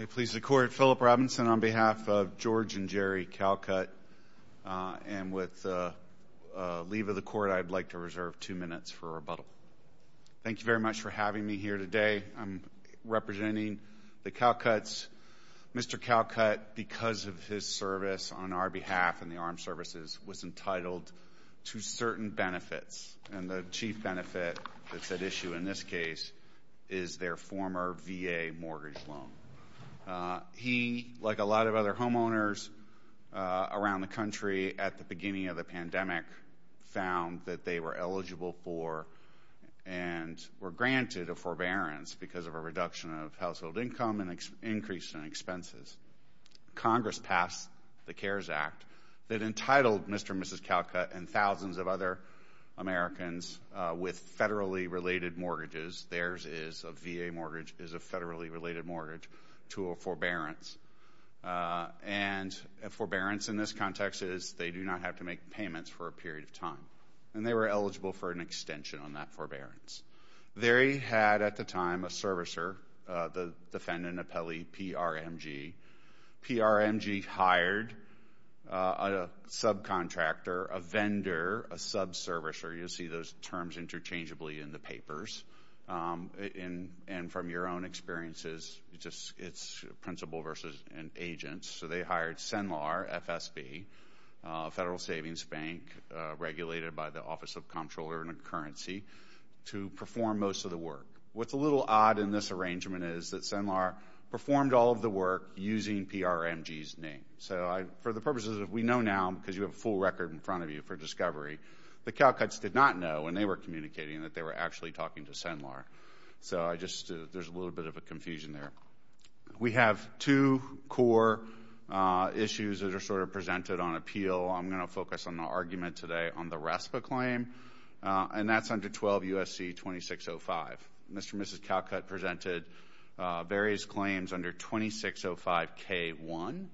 I please the Court, Philip Robinson, on behalf of George and Jerry Calcutt. And with the leave of the Court, I'd like to reserve two minutes for rebuttal. Thank you very much for having me here today. I'm representing the Calcutts. Mr. Calcutt, because of his service on our behalf in the armed services, was entitled to certain benefits. And the chief benefit that's at issue in this case is their former VA mortgage loan. He, like a lot of other homeowners around the country at the beginning of the pandemic, found that they were eligible for and were granted a forbearance because of a reduction of household income and an increase in expenses. Congress passed the CARES Act that entitled Mr. and Mrs. Calcutt and thousands of other Americans with federally related mortgages, theirs is a VA mortgage, is a federally related mortgage, to a forbearance. And a forbearance in this context is they do not have to make payments for a period of time. And they were eligible for an extension on that forbearance. They had at the time a servicer, the defendant, an appellee, PRMG. PRMG hired a subcontractor, a vendor, a subservicer. You'll see those terms interchangeably in the papers. And from your own experiences, it's principal versus an agent. So they hired CENLAR, FSB, Federal Savings Bank, regulated by the Office of Comptroller and Currency, to perform most of the work. What's a little odd in this arrangement is that CENLAR performed all of the work using PRMG's name. So for the purposes of we know now, because you have a full record in front of you for discovery, the Calcutts did not know when they were communicating that they were actually talking to CENLAR. So I just, there's a little bit of a confusion there. We have two core issues that are sort of presented on appeal. I'm going to focus on the argument today on the RESPA claim. And that's under 12 U.S.C. 2605. Mr. and Mrs. Calcutt presented various claims under 2605 K1.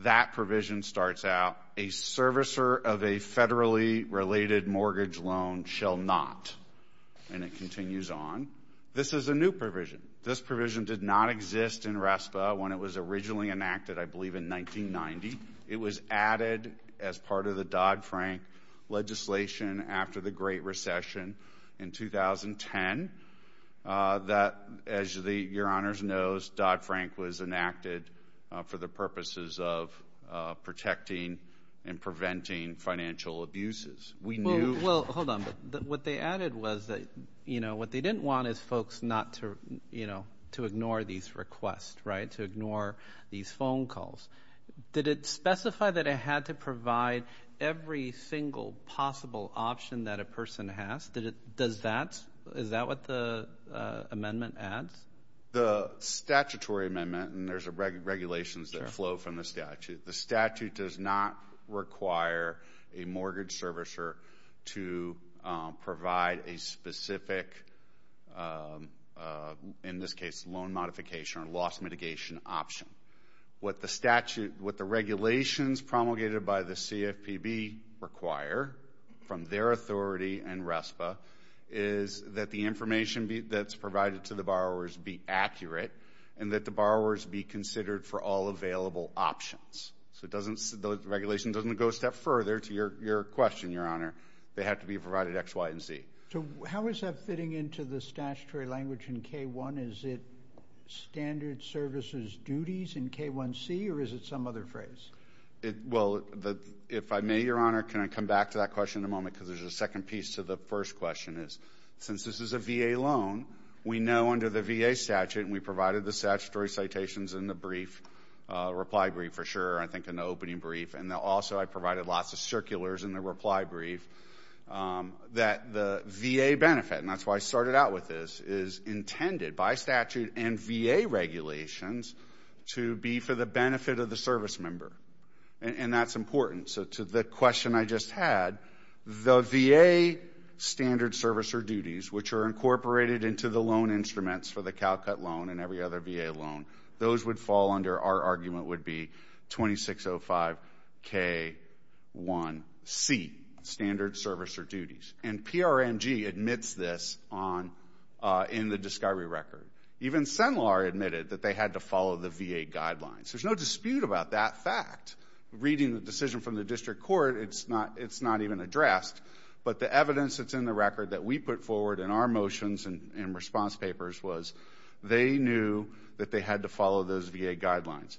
That provision starts out, a servicer of a federally related mortgage loan shall not. And it continues on. This is a new provision. This provision did not exist in RESPA when it was originally enacted, I believe, in 1990. It was added as part of the Dodd-Frank legislation after the Great Recession in 2010. That as your honors knows, Dodd-Frank was enacted for the purposes of protecting and preventing financial abuses. We knew. Well, hold on. What they added was that, you know, what they didn't want is folks not to, you know, to ignore these requests, right, to ignore these phone calls. Did it specify that it had to provide every single possible option that a person has? Does that? Is that what the amendment adds? The statutory amendment, and there's regulations that flow from the statute, the statute does not require a mortgage servicer to provide a specific, in this case, loan modification or loss mitigation option. What the statute, what the regulations promulgated by the CFPB require from their authority and RESPA is that the information that's provided to the borrowers be accurate and that the borrowers be considered for all available options. So it doesn't, the regulation doesn't go a step further to your question, your honor. They have to be provided X, Y, and Z. So how is that fitting into the statutory language in K-1? Is it standard services duties in K-1C or is it some other phrase? Well, if I may, your honor, can I come back to that question in a moment because there's a second piece to the first question is, since this is a VA loan, we know under the VA statute and we provided the statutory citations in the brief, reply brief for sure, I think in the opening brief, and also I provided lots of circulars in the reply brief, that the VA benefit, and that's why I started out with this, is intended by statute and VA regulations to be for the benefit of the service member. And that's important. So to the question I just had, the VA standard service or duties, which are incorporated into the loan instruments for the CalCut loan and every other VA loan, those would fall under our argument would be 2605 K-1C, standard service or duties. And PRMG admits this in the discovery record. Even CENLAR admitted that they had to follow the VA guidelines. There's no dispute about that fact. Reading the decision from the district court, it's not even addressed. But the evidence that's in the record that we put forward in our motions and response papers was they knew that they had to follow those VA guidelines.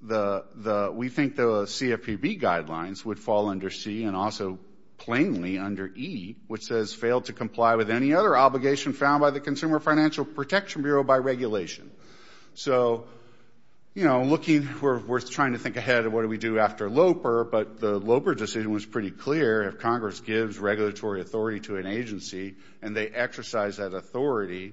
We think the CFPB guidelines would fall under C, and also plainly under E, which says failed to comply with any other obligation found by the Consumer Financial Protection Bureau by regulation. So we're trying to think ahead of what do we do after LOPER, but the LOPER decision was pretty clear. If Congress gives regulatory authority to an agency and they exercise that authority,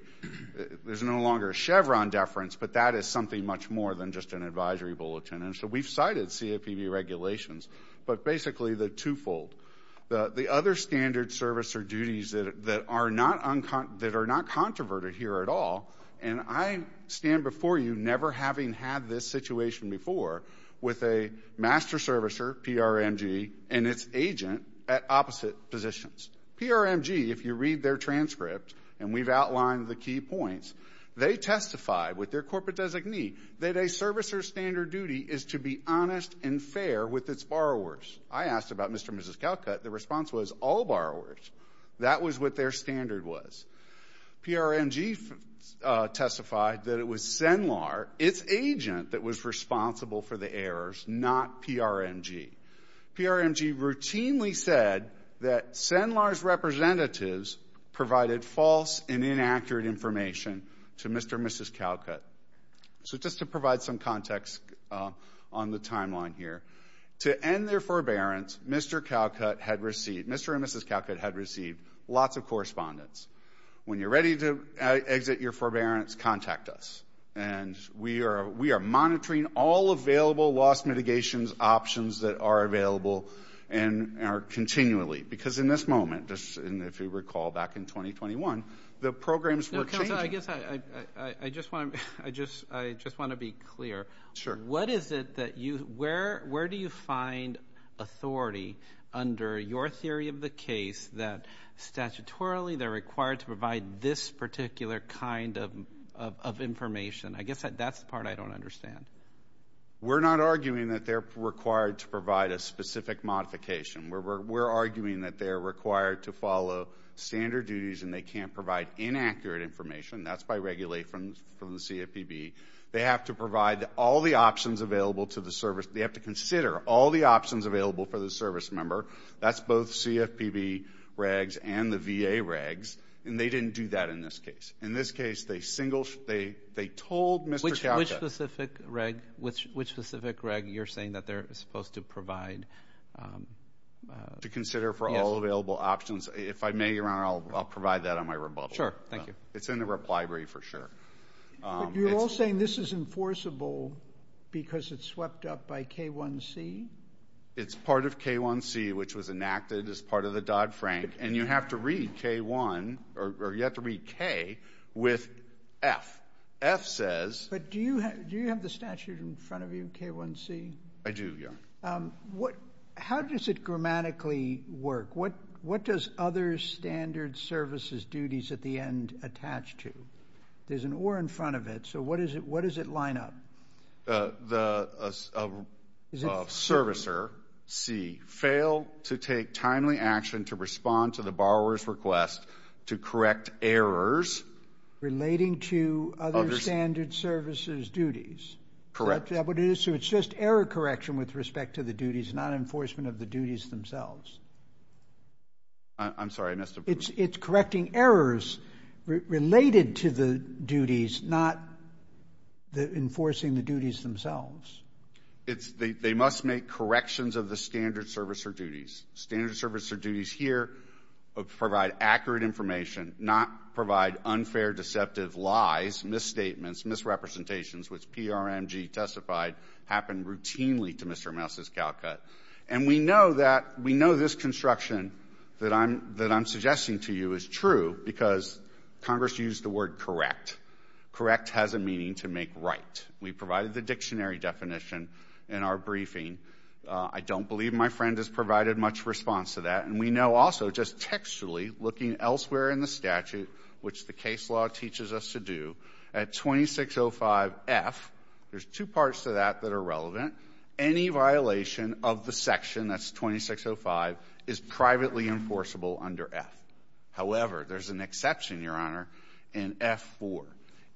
there's no longer a Chevron deference, but that is something much more than just an advisory bulletin. And so we've cited CFPB regulations, but basically the twofold. The other standard service or duties that are not controverted here at all, and I stand before you never having had this situation before with a master servicer, PRMG, and its agent at opposite positions. PRMG, if you read their transcript, and we've outlined the key points, they testify with their corporate designee that a servicer's standard duty is to be honest and fair with its borrowers. I asked about Mr. and Mrs. Calcutt. The response was all borrowers. That was what their standard was. PRMG testified that it was SINLAR, its agent that was responsible for the errors, not PRMG. PRMG routinely said that SINLAR's representatives provided false and inaccurate information to Mr. and Mrs. Calcutt. So just to provide some context on the timeline here, to end their forbearance, Mr. and Mrs. Calcutt had received lots of correspondence. When you're ready to exit your forbearance, contact us. And we are monitoring all available loss mitigation options that are available and are continually. Because in this moment, if you recall back in 2021, the programs were changing. I guess I just want to be clear. What is it that you, where do you find authority under your theory of the case that statutorily they're required to provide this particular kind of information? I guess that's the part I don't understand. We're not arguing that they're required to provide a specific modification. We're arguing that they're required to follow standard duties and they can't provide inaccurate information. That's by regulation from the CFPB. They have to provide all the options available to the service. They have to consider all the options available for the service member. That's both CFPB regs and the VA regs. And they didn't do that in this case. In this case, they told Mr. Calcutt. Which specific reg you're saying that they're supposed to provide? To consider for all available options. If I may, Your Honor, I'll provide that on my rebuttal. Sure. Thank you. It's in the library for sure. But you're all saying this is enforceable because it's swept up by K1C? It's part of K1C, which was enacted as part of the Dodd-Frank. And you have to read K1, or you have to read K, with F. F says... But do you have the statute in front of you, K1C? I do, Your Honor. How does it grammatically work? What does other standard services duties at the end attach to? There's an or in front of it. So what does it line up? The servicer, C, failed to take timely action to respond to the borrower's request to correct errors... Relating to other standard services duties. Correct. So it's just error correction with respect to the duties, not enforcement of the duties themselves. I'm sorry, I missed a... It's correcting errors related to the duties, not enforcing the duties themselves. They must make corrections of the standard servicer duties. Standard servicer duties here provide accurate information, not provide unfair, deceptive lies, misstatements, misrepresentations, which PRMG testified happened routinely to Mr. Ramos' cow cut. And we know that, we know this construction that I'm suggesting to you is true because Congress used the word correct. Correct has a meaning to make right. We provided the dictionary definition in our briefing. I don't believe my friend has provided much response to that. And we know also just textually, looking elsewhere in the statute, which the case law teaches us to do, at 2605F, there's two parts to that that are relevant. Any violation of the section, that's 2605, is privately enforceable under F. However, there's an exception, Your Honor, in F4.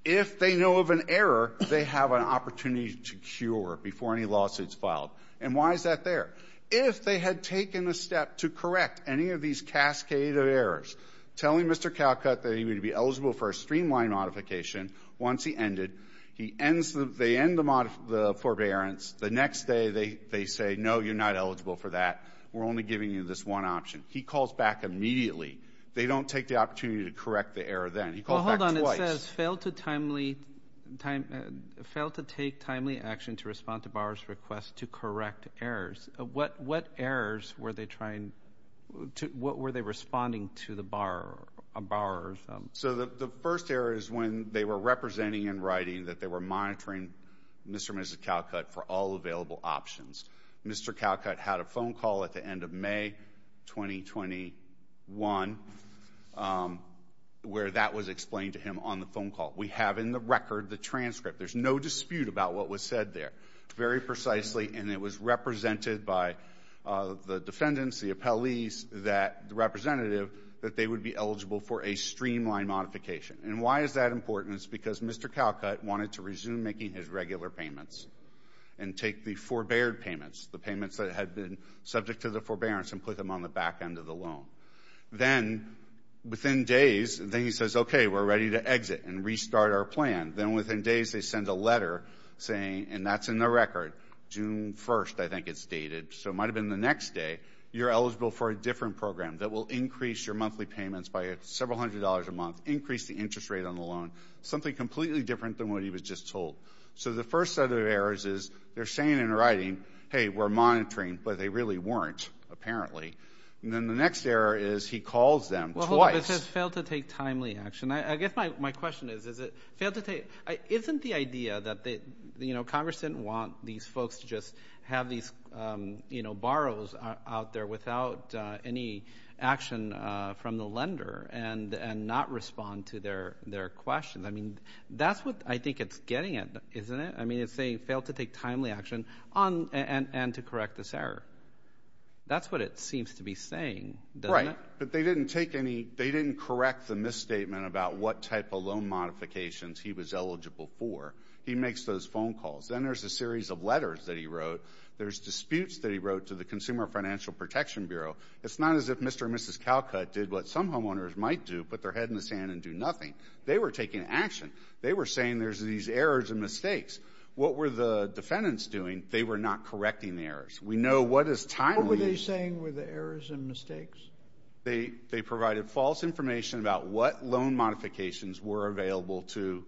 If they know of an error, they have an opportunity to cure before any lawsuit's filed. And why is that there? If they had taken a step to correct any of these cascade of errors, telling Mr. Cowcut that he would be eligible for a streamlined modification once he ended, he ends the, they next day, they say, no, you're not eligible for that. We're only giving you this one option. He calls back immediately. They don't take the opportunity to correct the error then. He calls back twice. It says, failed to take timely action to respond to borrower's request to correct errors. What errors were they trying, what were they responding to the borrower? So the first error is when they were representing in writing that they were monitoring Mr. and Mr. Cowcut had a phone call at the end of May 2021 where that was explained to him on the phone call. We have in the record the transcript. There's no dispute about what was said there. Very precisely. And it was represented by the defendants, the appellees, that, the representative, that they would be eligible for a streamlined modification. And why is that important? It's because Mr. Cowcut wanted to resume making his regular payments and take the forbear payments, the payments that had been subject to the forbearance, and put them on the back end of the loan. Then, within days, then he says, okay, we're ready to exit and restart our plan. Then within days, they send a letter saying, and that's in the record, June 1st, I think it's dated. So it might have been the next day, you're eligible for a different program that will increase your monthly payments by several hundred dollars a month, increase the interest rate on the loan. Something completely different than what he was just told. So the first set of errors is they're saying in writing, hey, we're monitoring, but they really weren't, apparently. And then the next error is he calls them twice. Well, hold on. It says fail to take timely action. I guess my question is, is it, fail to take, isn't the idea that they, you know, Congress didn't want these folks to just have these, you know, borrows out there without any action from the lender and not respond to their questions. I mean, that's what I think it's getting at, isn't it? I mean, it's saying fail to take timely action and to correct this error. That's what it seems to be saying, doesn't it? But they didn't take any, they didn't correct the misstatement about what type of loan modifications he was eligible for. He makes those phone calls. Then there's a series of letters that he wrote. There's disputes that he wrote to the Consumer Financial Protection Bureau. It's not as if Mr. and Mrs. Calcutt did what some homeowners might do, put their head in the sand and do nothing. They were taking action. They were saying there's these errors and mistakes. What were the defendants doing? They were not correcting the errors. We know what is timely. What were they saying were the errors and mistakes? They provided false information about what loan modifications were available to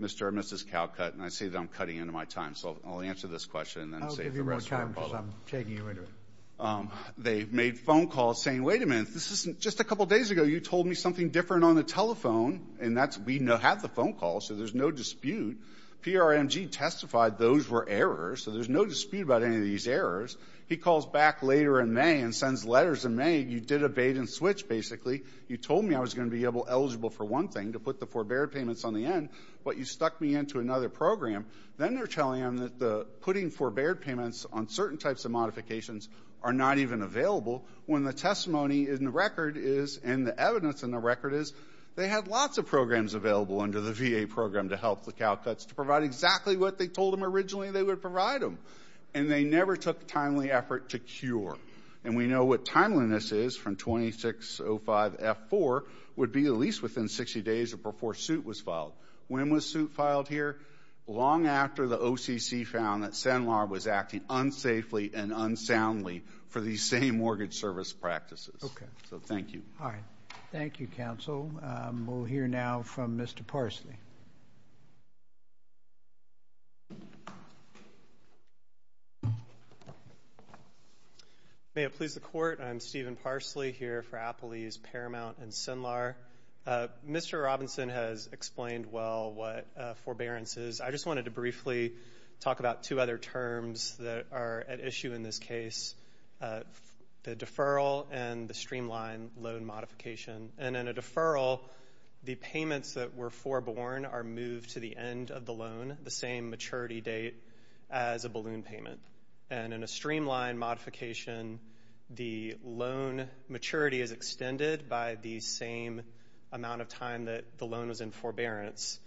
Mr. and Mrs. Calcutt. And I see that I'm cutting into my time, so I'll answer this question and then save the rest for the follow-up. I'll give you more time because I'm taking you into it. They made phone calls saying, wait a minute, this isn't – just a couple days ago, you told me something different on the telephone, and that's – we have the phone calls, so there's no dispute. PRMG testified those were errors, so there's no dispute about any of these errors. He calls back later in May and sends letters in May. You did a bait-and-switch, basically. You told me I was going to be eligible for one thing, to put the forbeared payments on the end, but you stuck me into another program. Then they're telling him that the putting forbeared payments on certain types of modifications are not even available when the testimony in the record is – and the evidence in the record is they had lots of programs available under the VA program to help the Calcutts to provide exactly what they told them originally they would provide them. And they never took timely effort to cure. And we know what timeliness is from 2605F4 would be at least within 60 days or before suit was filed. When was suit filed here? Long after the OCC found that SINLAR was acting unsafely and unsoundly for these same mortgage service practices. Okay. So, thank you. All right. Thank you, counsel. We'll hear now from Mr. Parsley. May it please the Court, I'm Stephen Parsley here for Applebee's, Paramount, and SINLAR. Mr. Robinson has explained well what forbearance is. I just wanted to briefly talk about two other terms that are at issue in this case, the deferral and the streamlined loan modification. And in a deferral, the payments that were foreborne are moved to the end of the loan, the same maturity date as a balloon payment. And in a streamlined modification, the loan maturity is extended by the same amount of time that the loan was in forbearance.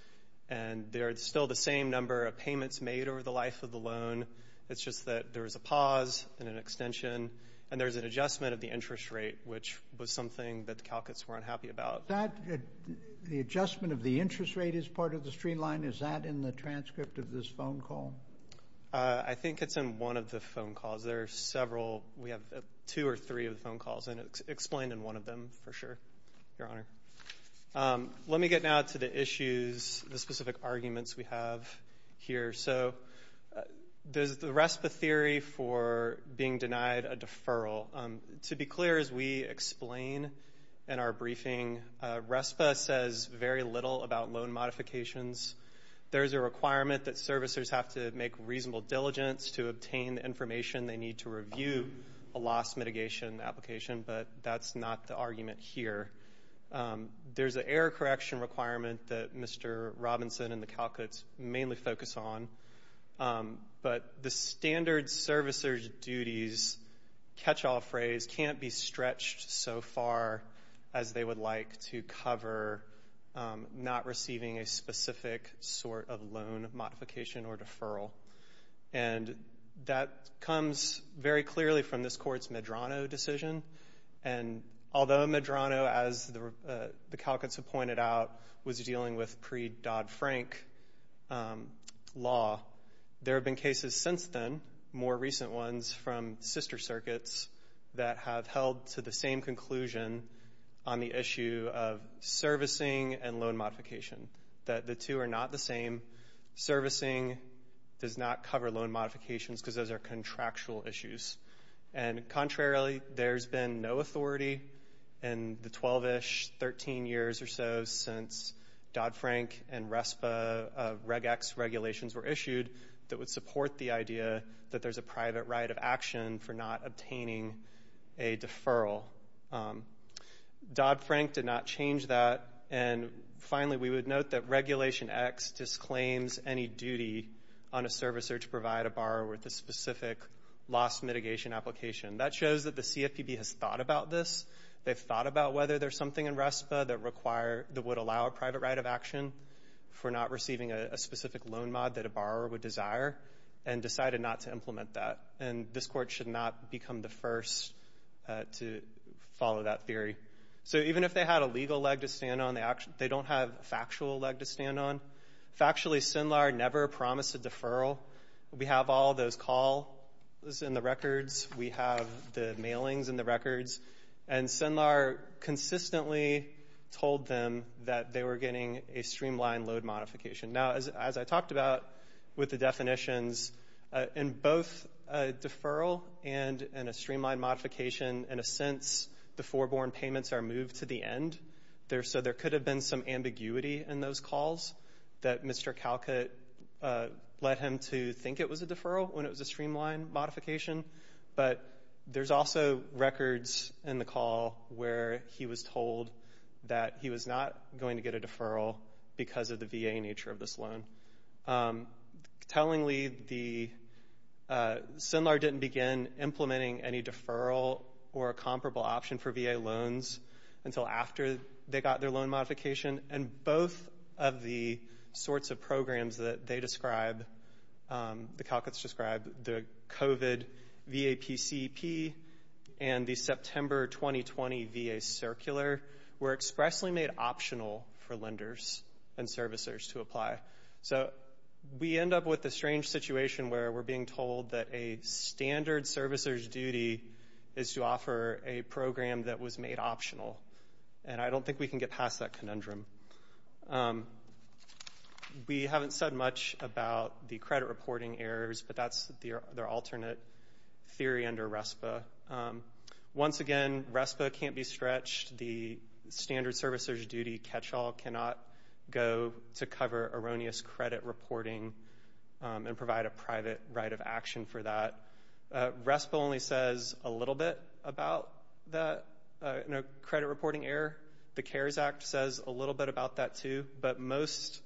And there's still the same number of payments made over the life of the loan. It's just that there was a pause and an extension. And there's an adjustment of the interest rate, which was something that the CalCuts were unhappy about. The adjustment of the interest rate is part of the streamline? Is that in the transcript of this phone call? I think it's in one of the phone calls. There are several. We have two or three of the phone calls, and it's explained in one of them, for sure, Your Honor. Let me get now to the issues, the specific arguments we have here. So there's the RESPA theory for being denied a deferral. To be clear, as we explain in our briefing, RESPA says very little about loan modifications. There's a requirement that servicers have to make reasonable diligence to obtain the information they need to review a loss mitigation application, but that's not the argument here. There's an error correction requirement that Mr. Robinson and the CalCuts mainly focus on, but the standard servicers' duties catch-all phrase can't be stretched so far as they would like to cover not receiving a specific sort of loan modification or deferral. And that comes very clearly from this Court's Medrano decision, and although Medrano, as the CalCuts have pointed out, was dealing with pre-Dodd-Frank law, there have been cases since then, more recent ones, from sister circuits that have held to the same conclusion on the issue of servicing and loan modification, that the two are not the same. Servicing does not cover loan modifications because those are contractual issues. And contrarily, there's been no authority in the 12-ish, 13 years or so since Dodd-Frank and RESPA Reg-Ex regulations were issued that would support the idea that there's a private right of action for not obtaining a deferral. Dodd-Frank did not change that, and finally, we would note that Regulation X disclaims any duty on a servicer to provide a borrower with a specific loss mitigation application. That shows that the CFPB has thought about this. They've thought about whether there's something in RESPA that would allow a private right of action for not receiving a specific loan mod that a borrower would desire, and decided not to implement that. And this Court should not become the first to follow that theory. So even if they had a legal leg to stand on, they don't have a factual leg to stand on. Factually, SINLAR never promised a deferral. We have all those calls in the records. We have the mailings in the records. And SINLAR consistently told them that they were getting a streamlined loan modification. Now, as I talked about with the definitions, in both a deferral and a streamlined modification, in a sense, the foreborn payments are moved to the end. So there could have been some ambiguity in those calls that Mr. Calcutt led him to think it was a deferral when it was a streamlined modification. But there's also records in the call where he was told that he was not going to get a deferral for this loan. Tellingly, SINLAR didn't begin implementing any deferral or a comparable option for VA loans until after they got their loan modification. And both of the sorts of programs that they describe, the Calcutts describe, the COVID VAPCP and the September 2020 VA Circular, were expressly made optional for lenders and servicers to apply. So we end up with a strange situation where we're being told that a standard servicer's duty is to offer a program that was made optional. And I don't think we can get past that conundrum. We haven't said much about the credit reporting errors, but that's their alternate theory under RESPA. Once again, RESPA can't be stretched. The standard servicer's duty catch-all cannot go to cover erroneous credit reporting and provide a private right of action for that. RESPA only says a little bit about the credit reporting error. The CARES Act says a little bit about that, too, but most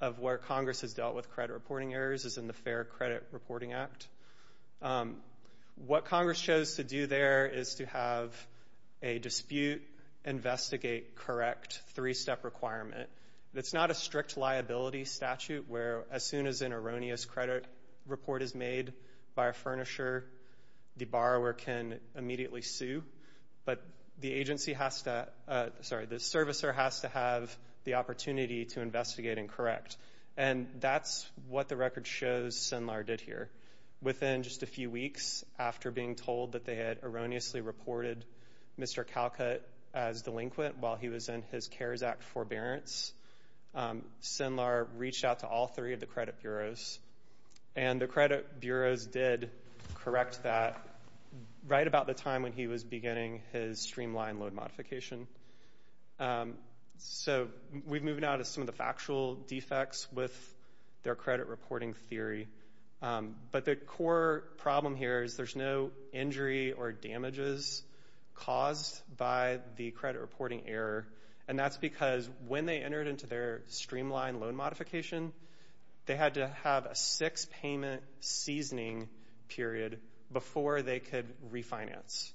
of where Congress has dealt with credit reporting errors is in the Fair Credit Reporting Act. What Congress chose to do there is to have a dispute investigate correct three-step requirement. It's not a strict liability statute where as soon as an erroneous credit report is made by a furnisher, the borrower can immediately sue. But the agency has to, sorry, the servicer has to have the opportunity to investigate and correct. And that's what the record shows SINLAR did here. Within just a few weeks after being told that they had erroneously reported Mr. Calcutt as delinquent while he was in his CARES Act forbearance, SINLAR reached out to all three of the credit bureaus. And the credit bureaus did correct that right about the time when he was beginning his streamlined load modification. So, we've moved now to some of the factual defects with their credit reporting theory. But the core problem here is there's no injury or damages caused by the credit reporting error. And that's because when they entered into their streamlined loan modification, they had to have a six-payment seasoning period before they could refinance.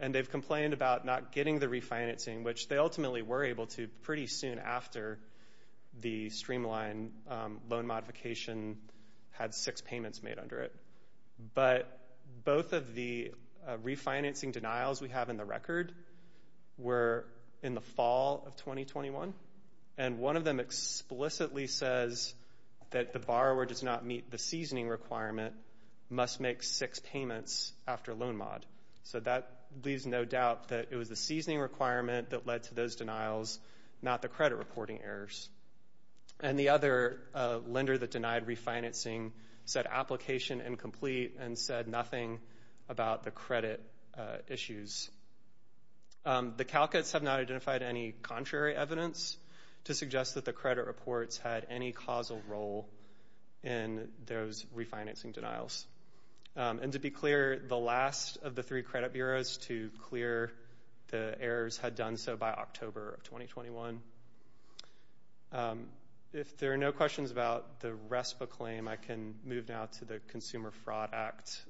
And they've complained about not getting the refinancing, which they ultimately were able to pretty soon after the streamlined loan modification had six payments made under it. But both of the refinancing denials we have in the record were in the fall of 2021. And one of them explicitly says that the borrower does not meet the seasoning requirement, must make six payments after loan mod. So, that leaves no doubt that it was the seasoning requirement that led to those denials, not the credit reporting errors. And the other lender that denied refinancing said application incomplete and said nothing about the credit issues. The CalCuts have not identified any contrary evidence to suggest that the credit reports had any causal role in those refinancing denials. And to be clear, the last of the three credit bureaus to clear the errors had done so by October of 2021. If there are no questions about the RESPA claim, I can move now to the Consumer Fraud Act.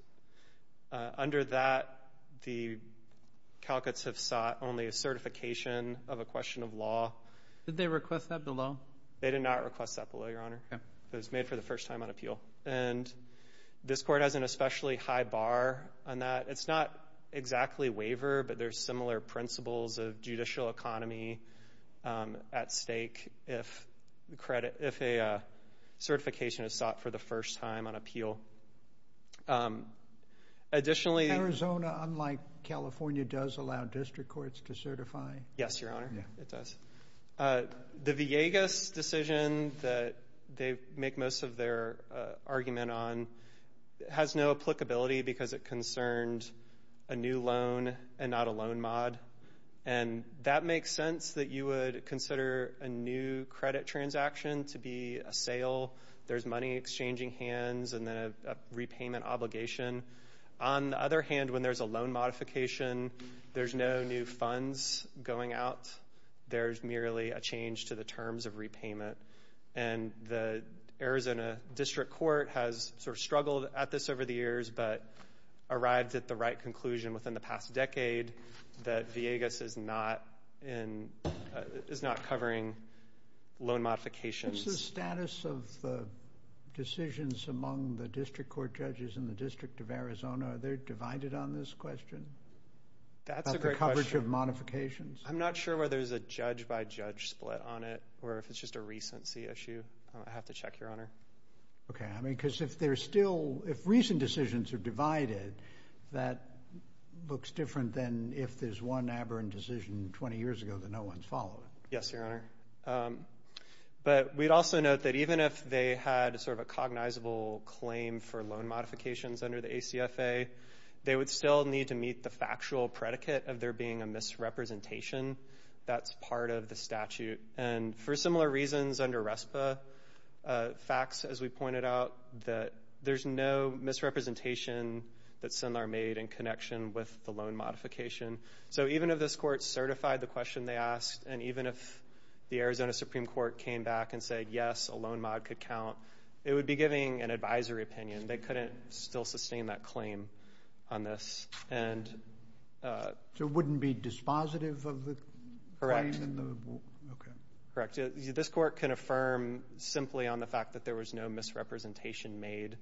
Under that, the CalCuts have sought only a certification of a question of law. Did they request that below? They did not request that below, Your Honor. It was made for the first time on appeal. And this court has an especially high bar on that. It's not exactly waiver, but there's similar principles of judicial economy at stake if a certification is sought for the first time on appeal. Additionally— Arizona, unlike California, does allow district courts to certify. Yes, Your Honor, it does. The Villegas decision that they make most of their argument on has no applicability because it concerned a new loan and not a loan mod. And that makes sense that you would consider a new credit transaction to be a sale. There's money exchanging hands and then a repayment obligation. On the other hand, when there's a loan modification, there's no new funds going out. There's merely a change to the terms of repayment. And the Arizona District Court has sort of struggled at this over the years but arrived at the right conclusion within the past decade that Villegas is not covering loan modifications. What's the status of the decisions among the district court judges in the District of Arizona? Are they divided on this question? That's a great question. About the coverage of modifications? I'm not sure whether there's a judge-by-judge split on it or if it's just a recent CSU. I'd have to check, Your Honor. Okay. I mean, because if there's still—if recent decisions are divided, that looks different than if there's one aberrant decision 20 years ago that no one's followed. Yes, Your Honor. But we'd also note that even if they had sort of a cognizable claim for loan modifications under the ACFA, they would still need to meet the factual predicate of there being a misrepresentation that's part of the statute. And for similar reasons under RESPA facts, as we pointed out, that there's no misrepresentation that SINLAR made in connection with the loan modification. So even if this court certified the question they asked and even if the Arizona Supreme Court came back and said, yes, a loan mod could count, it would be giving an advisory opinion. They couldn't still sustain that claim on this. And— So it wouldn't be dispositive of the claim? Okay. Correct. This court can affirm simply on the fact that there was no misrepresentation made,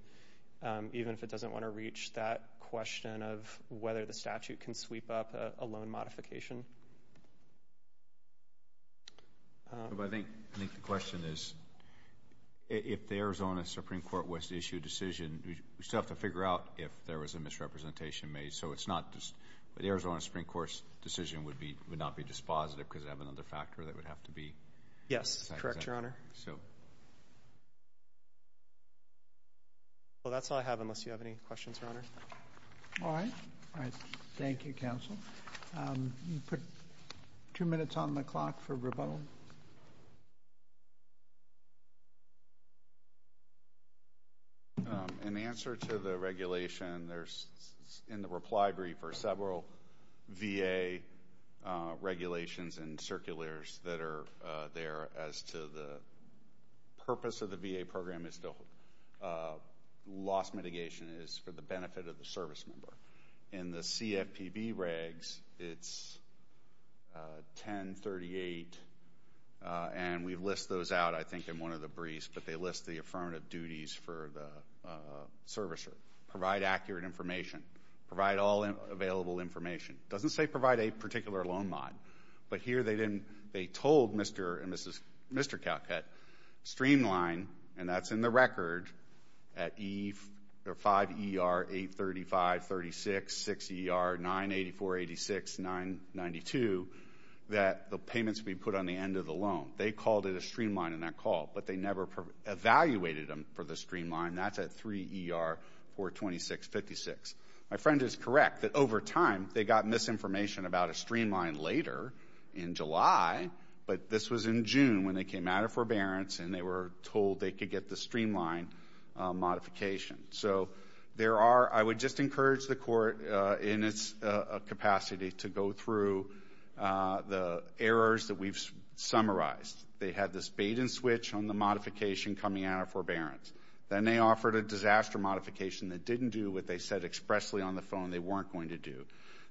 even if it doesn't want to reach that question of whether the statute can sweep up a loan modification. I think the question is, if the Arizona Supreme Court was to issue a decision, we'd still have to figure out if there was a misrepresentation made. But the Arizona Supreme Court's decision would not be dispositive because they have another factor that would have to be— Yes. Correct, Your Honor. Well, that's all I have, unless you have any questions, Your Honor. All right. All right. Thank you, counsel. You put two minutes on the clock for rebuttal. Mr. In answer to the regulation, there's— in the reply brief are several VA regulations and circulars that are there as to the purpose of the VA program is to— loss mitigation is for the benefit of the service member. In the CFPB regs, it's 1038, and we list those out, I think, in one of the briefs. But they list the affirmative duties for the servicer. Provide accurate information. Provide all available information. Doesn't say provide a particular loan mod. But here they didn't— they told Mr. and Mrs.—Mr. Calcutt, streamline, and that's in the record, at E—or 5ER-835-36, 6ER-984-86-992, that the payments would be put on the end of the loan. They called it a streamline in that call. But they never evaluated them for the streamline. That's at 3ER-426-56. My friend is correct that over time, they got misinformation about a streamline later, in July, but this was in June when they came out of forbearance, and they were told they could get the streamline modification. So there are—I would just encourage the court, in its capacity, to go through the errors that we've summarized. They had this bait-and-switch on the modification coming out of forbearance. Then they offered a disaster modification that didn't do what they said expressly on the phone they weren't going to do.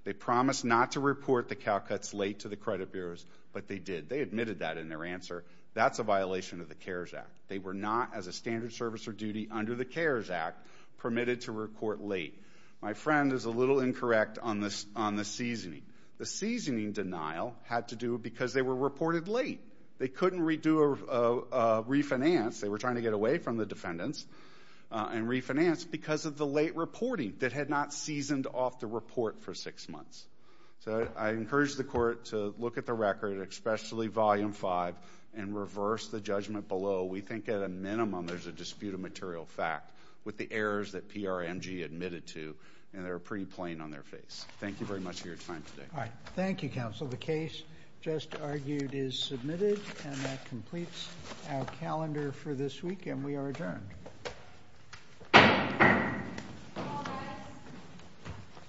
They promised not to report the Calcutts late to the credit bureaus, but they did. They admitted that in their answer. That's a violation of the CARES Act. They were not, as a standard service or duty under the CARES Act, permitted to report late. My friend is a little incorrect on this—on the seasoning. The seasoning denial had to do because they were reported late. They couldn't redo or refinance—they were trying to get away from the defendants and refinance because of the late reporting that had not seasoned off the report for six months. So I encourage the court to look at the record, especially Volume 5, and reverse the judgment below. We think, at a minimum, there's a dispute of material fact with the errors that PRMG admitted to, and they're pretty plain on their face. Thank you very much for your time today. All right. Thank you, counsel. The case just argued is submitted, and that completes our calendar for this week, and we are adjourned.